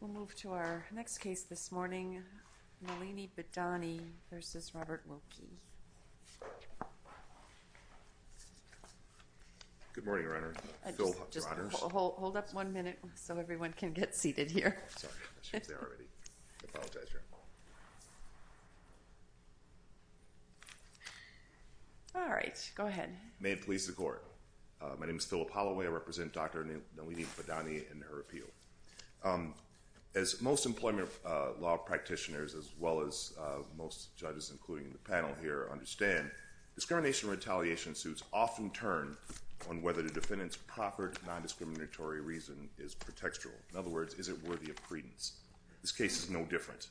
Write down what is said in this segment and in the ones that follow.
We'll move to our next case this morning, Nalini Bidani v. Robert Wilkie. Good morning, Your Honor. Hold up one minute so everyone can get seated here. Sorry, she was there already. I apologize, Your Honor. Alright, go ahead. May it please the Court. My name is Philip Holloway. I represent Dr. Nalini Bidani and her appeal. As most employment law practitioners, as well as most judges, including the panel here, understand, discrimination and retaliation suits often turn on whether the defendant's proper non-discriminatory reason is pretextual. In other words, is it worthy of credence? This case is no different.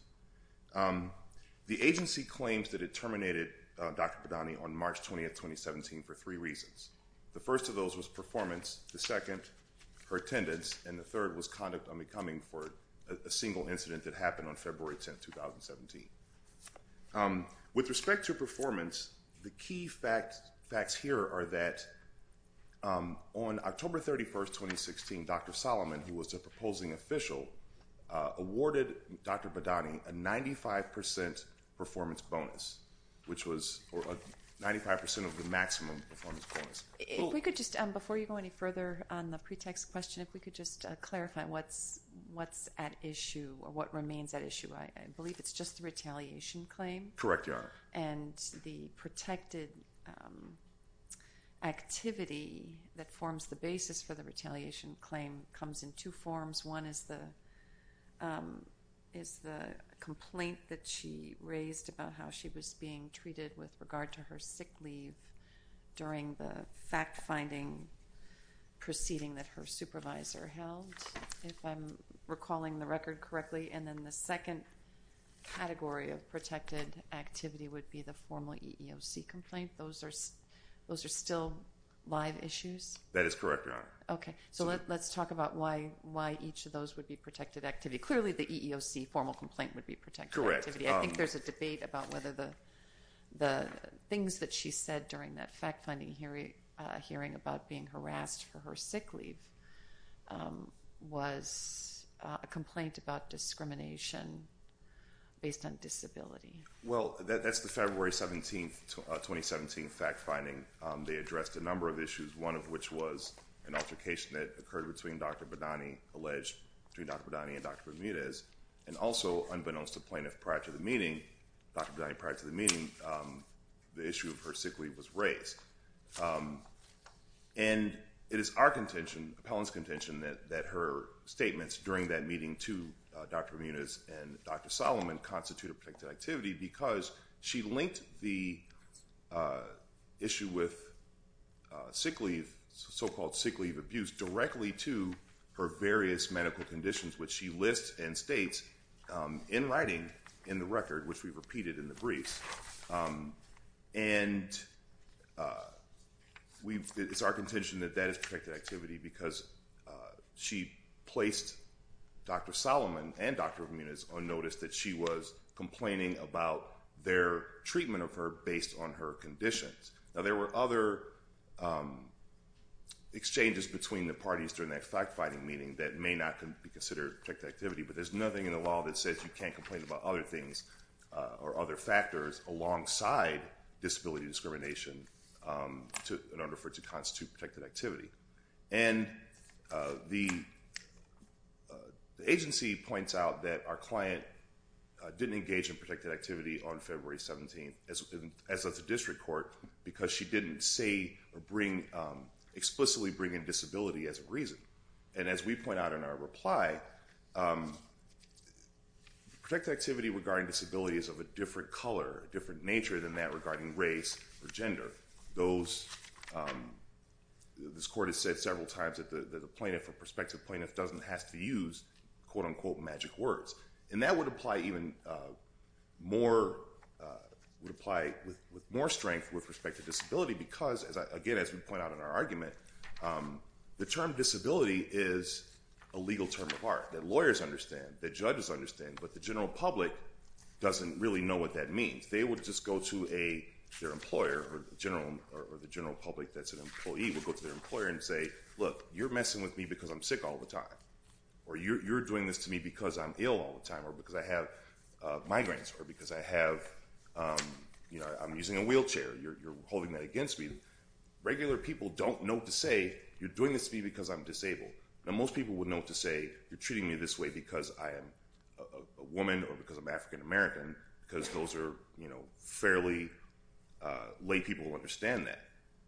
The agency claims that it terminated Dr. Bidani on March 20, 2017, for three reasons. The first of those was performance. The second, her attendance. And the third was conduct unbecoming for a single incident that happened on February 10, 2017. With respect to performance, the key facts here are that on October 31, 2016, Dr. Solomon, who was the proposing official, awarded Dr. Bidani a 95% performance bonus, which was 95% of the maximum performance bonus. Before you go any further on the pretext question, if we could just clarify what's at issue or what remains at issue. I believe it's just the retaliation claim. Correct, Your Honor. And the protected activity that forms the basis for the retaliation claim comes in two forms. One is the complaint that she raised about how she was being treated with regard to her sick leave during the fact-finding proceeding that her supervisor held, if I'm recalling the record correctly. And then the second category of protected activity would be the formal EEOC complaint. Those are still live issues? That is correct, Your Honor. Okay. So let's talk about why each of those would be protected activity. Clearly, the EEOC formal complaint would be protected activity. I think there's a debate about whether the things that she said during that fact-finding hearing about being harassed for her sick leave was a complaint about discrimination based on disability. Well, that's the February 17, 2017 fact-finding. They addressed a number of issues, one of which was an altercation that occurred between Dr. Badani, alleged between Dr. Badani and Dr. Ramirez. And also, unbeknownst to the plaintiff prior to the meeting, Dr. Badani prior to the meeting, the issue of her sick leave was raised. And it is our contention, appellant's contention, that her statements during that meeting to Dr. Ramirez and Dr. Solomon constitute a protected activity because she linked the issue with sick leave, so-called sick leave abuse, directly to her various medical conditions, which she lists and states in writing in the record, which we've repeated in the briefs. And it's our contention that that is protected activity because she placed Dr. Solomon and Dr. Ramirez on notice that she was complaining about their treatment of her based on her conditions. Now, there were other exchanges between the parties during that fact-finding meeting that may not be considered protected activity, but there's nothing in the law that says you can't complain about other things or other factors alongside disability discrimination in order for it to constitute protected activity. And the agency points out that our client didn't engage in protected activity on February 17, as of the district court, because she didn't say or explicitly bring in disability as a reason. And as we point out in our reply, protected activity regarding disability is of a different color, a different nature than that regarding race or gender. This court has said several times that the plaintiff or prospective plaintiff doesn't have to use And that would apply with more strength with respect to disability because, again, as we point out in our argument, the term disability is a legal term of art that lawyers understand, that judges understand, but the general public doesn't really know what that means. They would just go to their employer or the general public that's an employee would go to their employer and say, look, you're messing with me because I'm sick all the time or you're doing this to me because I'm ill all the time or because I have migraines or because I have, you know, I'm using a wheelchair, you're holding that against me. Regular people don't know to say you're doing this to me because I'm disabled. Now, most people would know to say you're treating me this way because I am a woman or because I'm African American because those are, you know, fairly lay people who understand that.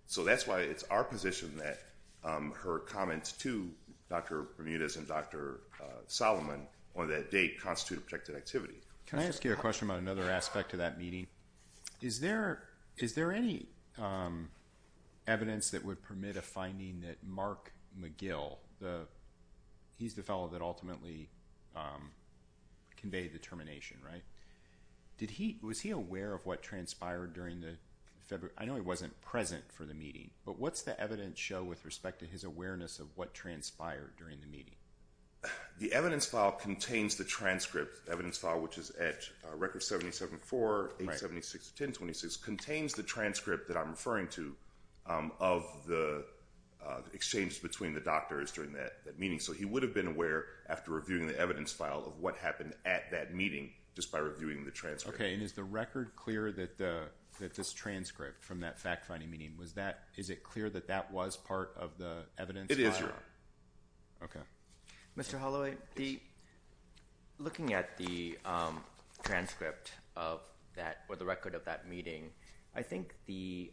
So that's why it's our position that her comments to Dr. Bermudez and Dr. Solomon on that date constitute objective activity. Can I ask you a question about another aspect of that meeting? Is there any evidence that would permit a finding that Mark McGill, he's the fellow that ultimately conveyed the termination, right? Did he, was he aware of what transpired during the February, I know he wasn't present for the meeting, but what's the evidence show with respect to his awareness of what transpired during the meeting? The evidence file contains the transcript, the evidence file which is at record 77-4, 8-76, 10-26, contains the transcript that I'm referring to of the exchange between the doctors during that meeting. So he would have been aware after reviewing the evidence file of what happened at that meeting just by reviewing the transcript. Okay, and is the record clear that this transcript from that fact-finding meeting, was that, is it clear that that was part of the evidence? It is, Your Honor. Okay. Mr. Holloway, looking at the transcript of that, or the record of that meeting, I think the,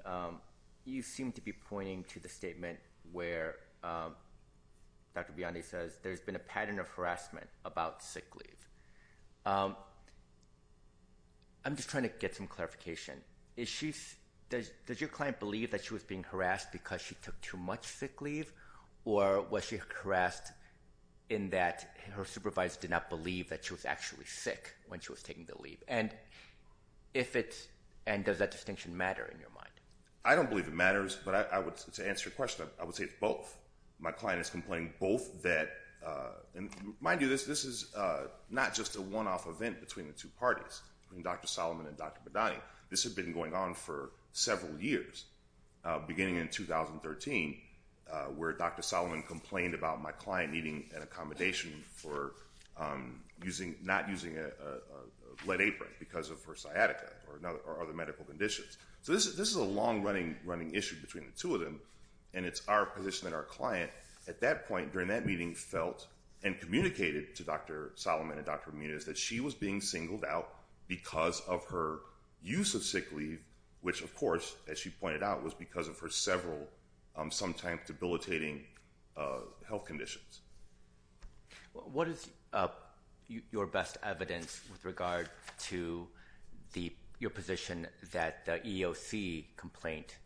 you seem to be pointing to the statement where Dr. Biondi says there's been a pattern of harassment about sick leave. I'm just trying to get some clarification. Is she, does your client believe that she was being harassed because she took too much sick leave, or was she harassed in that her supervisor did not believe that she was actually sick when she was taking the leave? And if it's, and does that distinction matter in your mind? I don't believe it matters, but I would, to answer your question, I would say it's both. My client is complaining both that, and mind you, this is not just a one-off event between the two parties, between Dr. Solomon and Dr. Biondi. This had been going on for several years, beginning in 2013, where Dr. Solomon complained about my client needing an accommodation for using, not using a lead apron because of her sciatica or other medical conditions. So this is a long-running issue between the two of them, and it's our position and our client, at that point during that meeting felt and communicated to Dr. Solomon and Dr. Biondi that she was being singled out because of her use of sick leave, which, of course, as she pointed out, was because of her several sometimes debilitating health conditions. What is your best evidence with regard to your position that the EOC complaint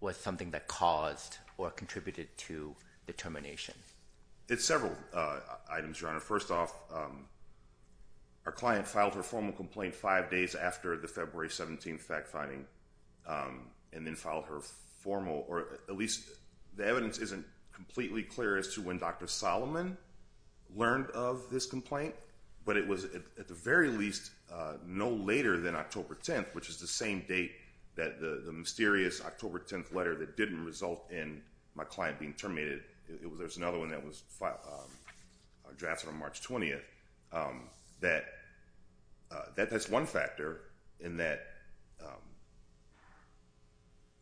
was something that caused or contributed to the termination? Well, first off, our client filed her formal complaint five days after the February 17 fact-finding and then filed her formal, or at least the evidence isn't completely clear as to when Dr. Solomon learned of this complaint, but it was at the very least no later than October 10th, which is the same date that the mysterious October 10th letter that didn't result in my client being terminated. There's another one that was drafted on March 20th. That's one factor in that.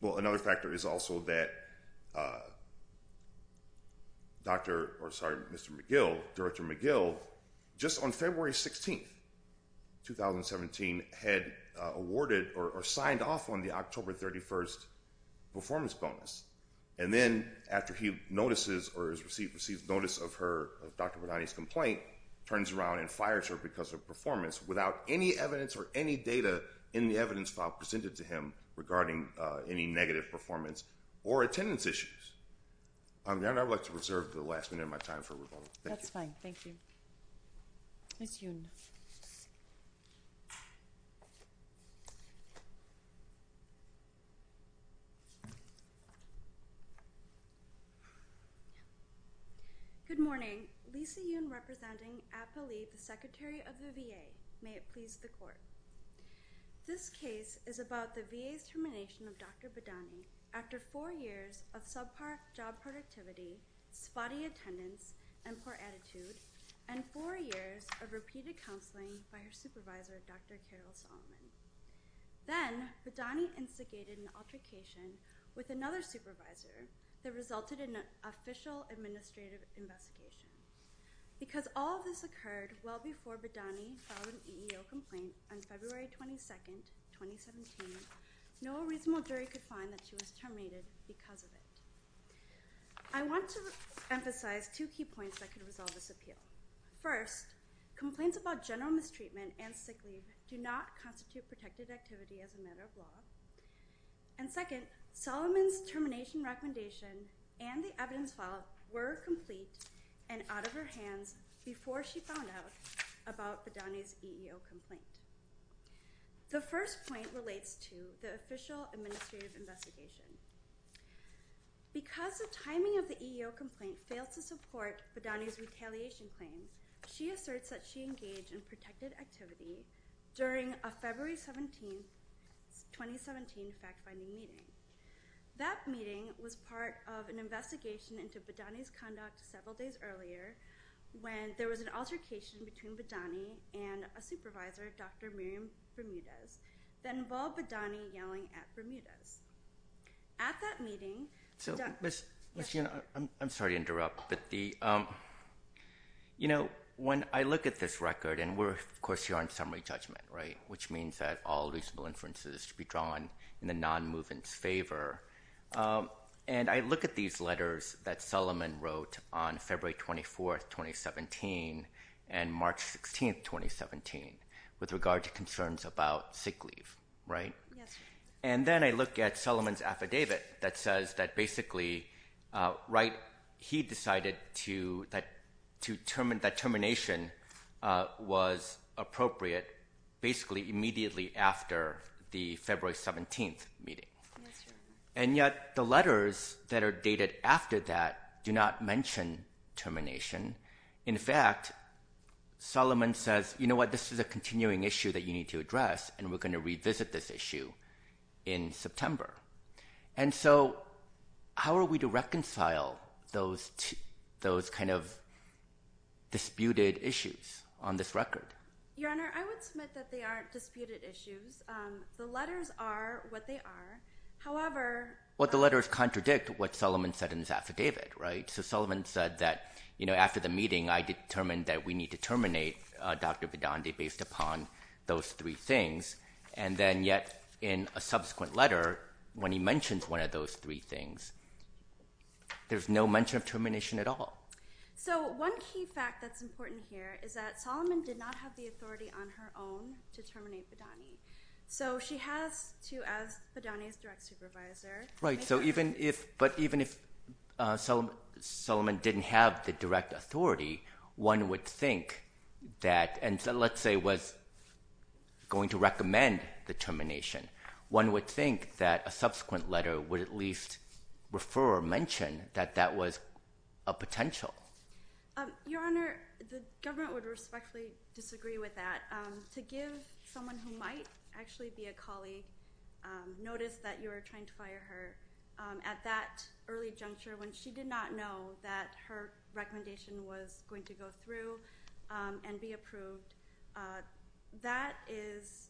Well, another factor is also that Dr. or sorry, Mr. McGill, Director McGill, just on February 16th, 2017, had awarded or signed off on the October 31st performance bonus. And then after he notices or has received notice of her, of Dr. Radani's complaint, turns around and fires her because of performance without any evidence or any data in the evidence file presented to him regarding any negative performance or attendance issues. And I would like to reserve the last minute of my time for rebuttal. That's fine. Thank you. Ms. Yoon. Good morning. Lisa Yoon representing APALE, the Secretary of the VA. May it please the Court. This case is about the VA's termination of Dr. Radani after four years of subpar job productivity, spotty attendance, and poor attitude, and four years of repeated counseling by her supervisor, Dr. Carol Solomon. Then, Radani instigated an altercation with another supervisor that resulted in an official administrative investigation. Because all of this occurred well before Radani filed an EEO complaint on February 22nd, 2017, no reasonable jury could find that she was terminated because of it. I want to emphasize two key points that could resolve this appeal. First, complaints about general mistreatment and sick leave do not constitute protected activity as a matter of law. And second, Solomon's termination recommendation and the evidence file were complete and out of her hands before she found out about Radani's EEO complaint. The first point relates to the official administrative investigation. Because the timing of the EEO complaint failed to support Radani's retaliation claims, she asserts that she engaged in protected activity during a February 17th, 2017, fact-finding meeting. That meeting was part of an investigation into Radani's conduct several days earlier when there was an altercation between Radani and a supervisor, Dr. Miriam Bermudez, that involved Radani yelling at Bermudez. At that meeting... So, Ms. Yun, I'm sorry to interrupt, but the... You know, when I look at this record, and we're, of course, here on summary judgment, right, which means that all reasonable inferences should be drawn in the non-movement's favor. And I look at these letters that Solomon wrote on February 24th, 2017 and March 16th, 2017 with regard to concerns about sick leave, right? Yes, sir. And then I look at Solomon's affidavit that says that basically, right, he decided that termination was appropriate basically immediately after the February 17th meeting. And yet the letters that are dated after that do not mention termination. In fact, Solomon says, you know what, this is a continuing issue that you need to address, and we're going to revisit this issue in September. And so how are we to reconcile those kind of disputed issues on this record? Your Honor, I would submit that they aren't disputed issues. The letters are what they are. However... Well, the letters contradict what Solomon said in his affidavit, right? So Solomon said that, you know, after the meeting, I determined that we need to terminate Dr. Badani based upon those three things. And then yet in a subsequent letter, when he mentions one of those three things, there's no mention of termination at all. So one key fact that's important here is that Solomon did not have the authority on her own to terminate Badani. So she has to ask Badani's direct supervisor. Right. But even if Solomon didn't have the direct authority, one would think that, and let's say was going to recommend the termination, one would think that a subsequent letter would at least refer or mention that that was a potential. Your Honor, the government would respectfully disagree with that. To give someone who might actually be a colleague notice that you are trying to fire her at that early juncture when she did not know that her recommendation was going to go through and be approved, that is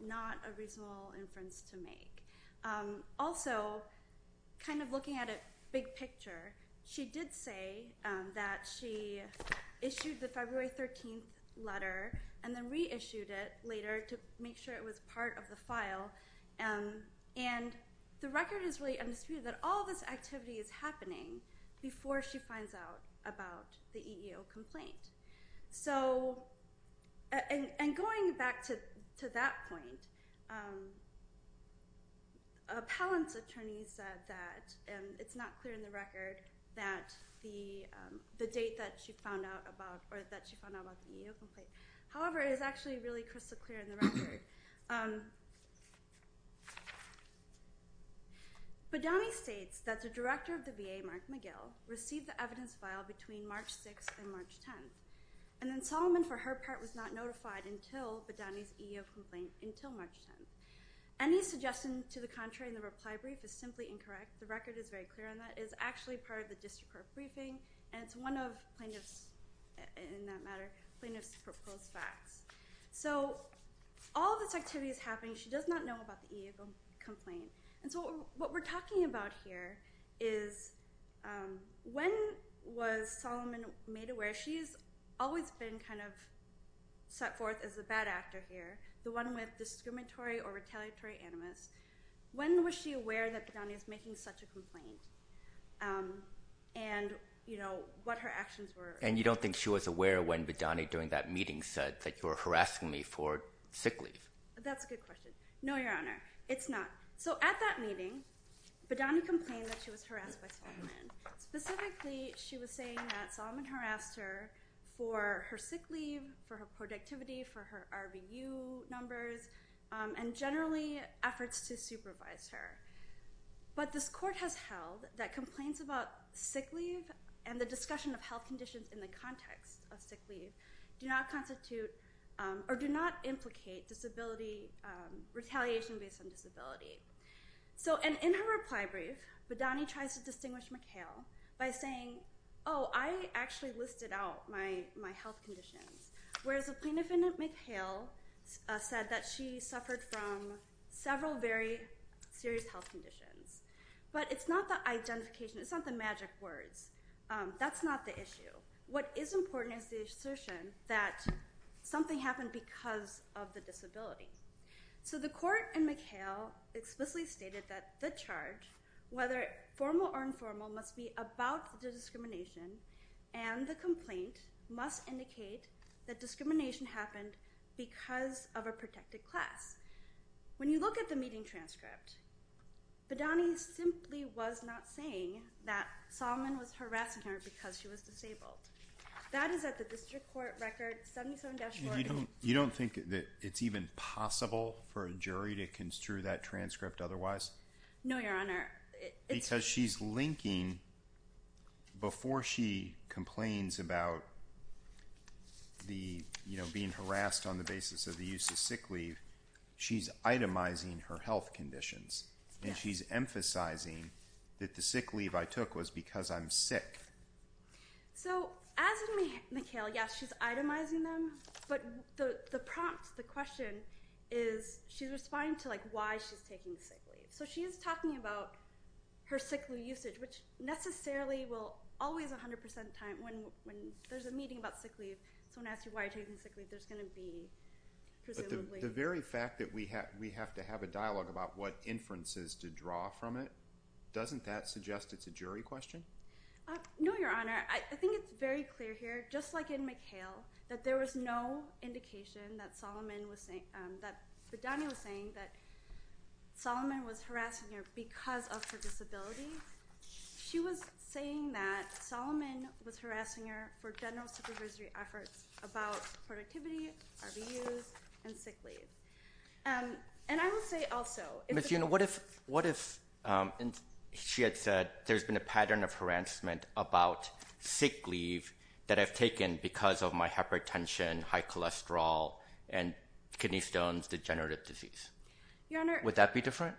not a reasonable inference to make. Also, kind of looking at it big picture, she did say that she issued the February 13th letter and then reissued it later to make sure it was part of the file. And the record is really undisputed that all this activity is happening before she finds out about the EEO complaint. And going back to that point, Appellant's attorney said that it's not clear in the record that the date that she found out about, or that she found out about the EEO complaint. However, it is actually really crystal clear in the record. Badani states that the director of the VA, Mark McGill, received the evidence file between March 6th and March 10th. And then Solomon, for her part, was not notified until Badani's EEO complaint until March 10th. Any suggestion to the contrary in the reply brief is simply incorrect. The record is very clear on that. It is actually part of the district court briefing. And it's one of plaintiff's, in that matter, plaintiff's proposed facts. So all of this activity is happening. She does not know about the EEO complaint. And so what we're talking about here is when was Solomon made aware? She has always been kind of set forth as the bad actor here, the one with discriminatory or retaliatory animus. When was she aware that Badani was making such a complaint and, you know, what her actions were? And you don't think she was aware when Badani, during that meeting, said that you were harassing me for sick leave? That's a good question. No, Your Honor. It's not. So at that meeting, Badani complained that she was harassed by Solomon. Specifically, she was saying that Solomon harassed her for her sick leave, for her productivity, for her RVU numbers, and generally efforts to supervise her. But this court has held that complaints about sick leave and the discussion of health conditions in the context of sick leave do not constitute or do not implicate disability, retaliation based on disability. So in her reply brief, Badani tries to distinguish McHale by saying, oh, I actually listed out my health conditions, whereas the plaintiff in McHale said that she suffered from several very serious health conditions. But it's not the identification. It's not the magic words. That's not the issue. What is important is the assertion that something happened because of the disability. So the court in McHale explicitly stated that the charge, whether formal or informal, must be about the discrimination and the complaint must indicate that discrimination happened because of a protected class. When you look at the meeting transcript, Badani simply was not saying that Solomon was harassing her because she was disabled. That is at the district court record 77-40. You don't think that it's even possible for a jury to construe that transcript otherwise? No, Your Honor. Because she's linking before she complains about being harassed on the basis of the use of sick leave, she's itemizing her health conditions, and she's emphasizing that the sick leave I took was because I'm sick. So as in McHale, yes, she's itemizing them, but the prompt, the question is she's responding to why she's taking sick leave. So she is talking about her sick leave usage, which necessarily will always 100% of the time, when there's a meeting about sick leave, someone asks you why you're taking sick leave, there's going to be presumably— But the very fact that we have to have a dialogue about what inferences to draw from it, doesn't that suggest it's a jury question? No, Your Honor. I think it's very clear here, just like in McHale, that there was no indication that Solomon was saying— that Bedanyi was saying that Solomon was harassing her because of her disability. She was saying that Solomon was harassing her for general supervisory efforts about productivity, RVUs, and sick leave. And I will say also— But, you know, what if she had said there's been a pattern of harassment about sick leave that I've taken because of my hypertension, high cholesterol, and kidney stones, degenerative disease? Your Honor— Would that be different?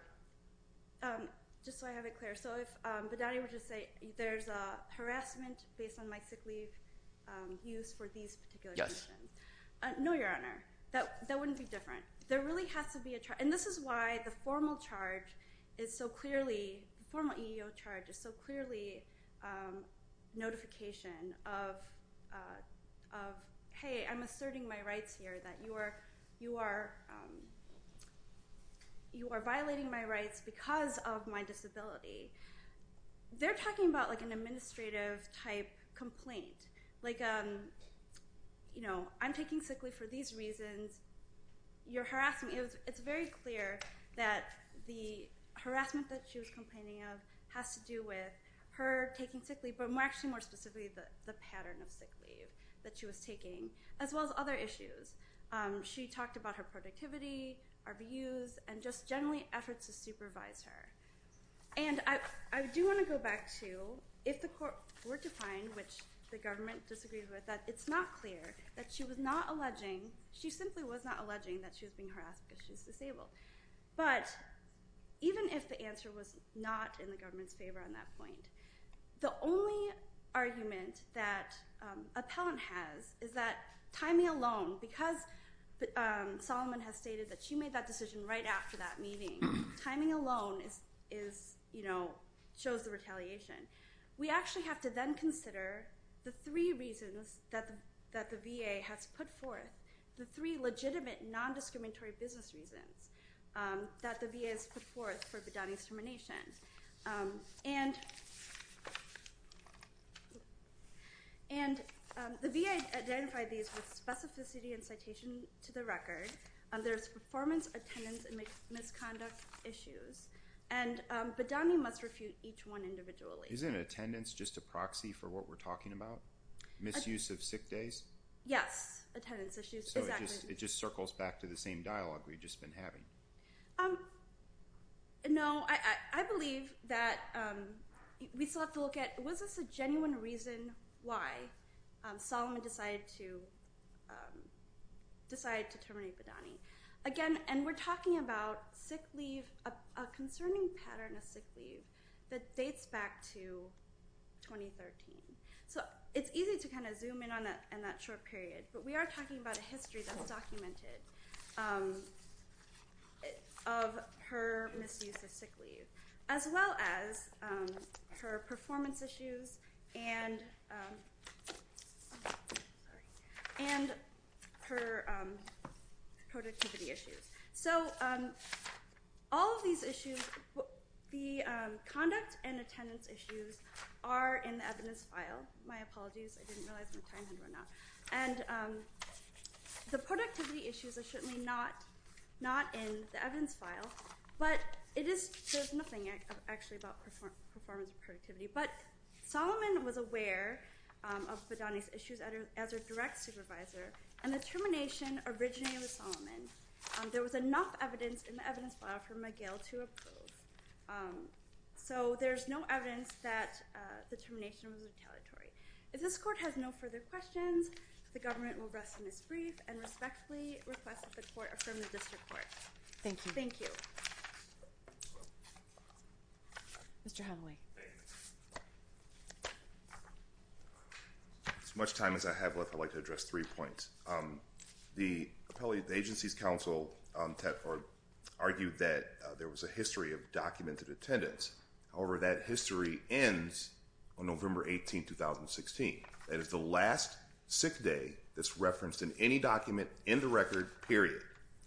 Just so I have it clear, so if Bedanyi were to say there's harassment based on my sick leave use for these particular reasons— Yes. No, Your Honor, that wouldn't be different. There really has to be a— And this is why the formal charge is so clearly—the formal EEO charge is so clearly notification of, hey, I'm asserting my rights here, that you are violating my rights because of my disability. They're talking about an administrative-type complaint. Like, you know, I'm taking sick leave for these reasons. You're harassing me. It's very clear that the harassment that she was complaining of has to do with her taking sick leave, but actually more specifically the pattern of sick leave that she was taking, as well as other issues. She talked about her productivity, RVUs, and just generally efforts to supervise her. And I do want to go back to if the court were to find, which the government disagrees with, that it's not clear that she was not alleging—she simply was not alleging that she was being harassed because she was disabled. But even if the answer was not in the government's favor on that point, the only argument that appellant has is that timing alone, because Solomon has stated that she made that decision right after that meeting, timing alone shows the retaliation. We actually have to then consider the three reasons that the VA has put forth, the three legitimate non-discriminatory business reasons that the VA has put forth for Bedani's termination. And the VA identified these with specificity and citation to the record. There's performance, attendance, and misconduct issues. And Bedani must refute each one individually. Isn't attendance just a proxy for what we're talking about, misuse of sick days? Yes, attendance issues, exactly. So it just circles back to the same dialogue we've just been having. No, I believe that we still have to look at, was this a genuine reason why Solomon decided to terminate Bedani? Again, and we're talking about a concerning pattern of sick leave that dates back to 2013. So it's easy to kind of zoom in on that short period, but we are talking about a history that's documented of her misuse of sick leave, as well as her performance issues and her productivity issues. So all of these issues, the conduct and attendance issues, are in the evidence file. My apologies, I didn't realize my time had run out. And the productivity issues are certainly not in the evidence file, but there's nothing actually about performance or productivity. But Solomon was aware of Bedani's issues as her direct supervisor, and the termination originally was Solomon. There was enough evidence in the evidence file for McGill to approve. So there's no evidence that the termination was retaliatory. If this court has no further questions, the government will rest in its brief and respectfully request that the court affirm the district court. Thank you. Thank you. Mr. Hathaway. As much time as I have left, I'd like to address three points. The agency's counsel argued that there was a history of documented attendance. However, that history ends on November 18, 2016. That is the last sick day that's referenced in any document in the record, period.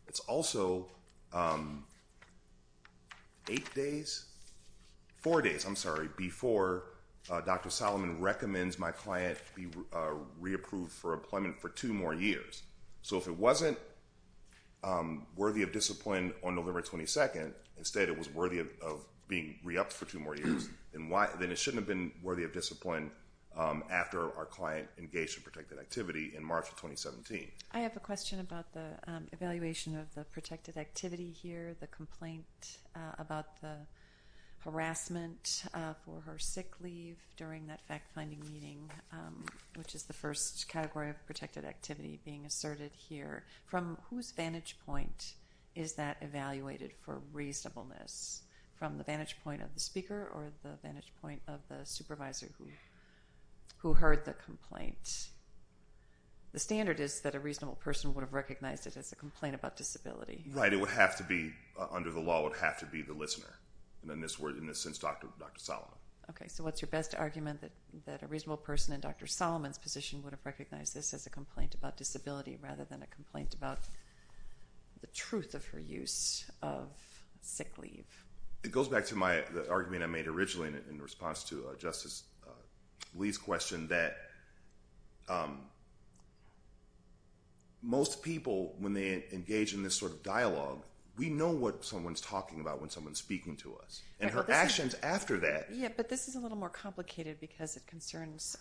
It's also eight days, four days, I'm sorry, before Dr. Solomon recommends my client be reapproved for employment for two more years. So if it wasn't worthy of discipline on November 22nd, instead it was worthy of being re-upped for two more years, then it shouldn't have been worthy of discipline after our client engaged in protected activity in March of 2017. I have a question about the evaluation of the protected activity here, the complaint about the harassment for her sick leave during that fact-finding meeting, which is the first category of protected activity being asserted here. From whose vantage point is that evaluated for reasonableness, from the vantage point of the speaker or the vantage point of the supervisor who heard the complaint? The standard is that a reasonable person would have recognized it as a complaint about disability. Right, it would have to be, under the law, it would have to be the listener. In this sense, Dr. Solomon. Okay, so what's your best argument that a reasonable person in Dr. Solomon's position would have recognized this as a complaint about disability rather than a complaint about the truth of her use of sick leave? It goes back to my argument I made originally in response to Justice Lee's question that most people, when they engage in this sort of dialogue, we know what someone's talking about when someone's speaking to us, and her actions after that. Yeah, but this is a little more complicated because it concerns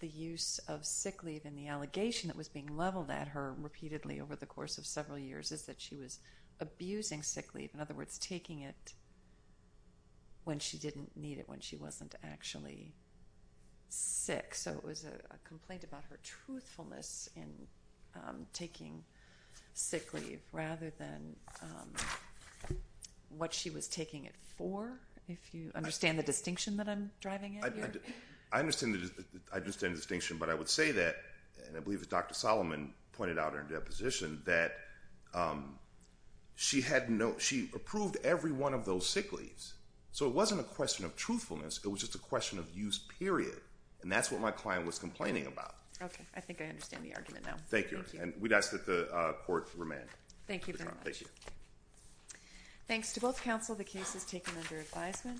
the use of sick leave and the allegation that was being leveled at her repeatedly over the course of several years when she didn't need it, when she wasn't actually sick. So it was a complaint about her truthfulness in taking sick leave rather than what she was taking it for, if you understand the distinction that I'm driving at here? I understand the distinction, but I would say that, and I believe that Dr. Solomon pointed out in her deposition, that she approved every one of those sick leaves. So it wasn't a question of truthfulness, it was just a question of use, period. And that's what my client was complaining about. Okay, I think I understand the argument now. Thank you, and we'd ask that the court remand. Thank you very much. Thank you. Thanks to both counsel, the case is taken under advisement.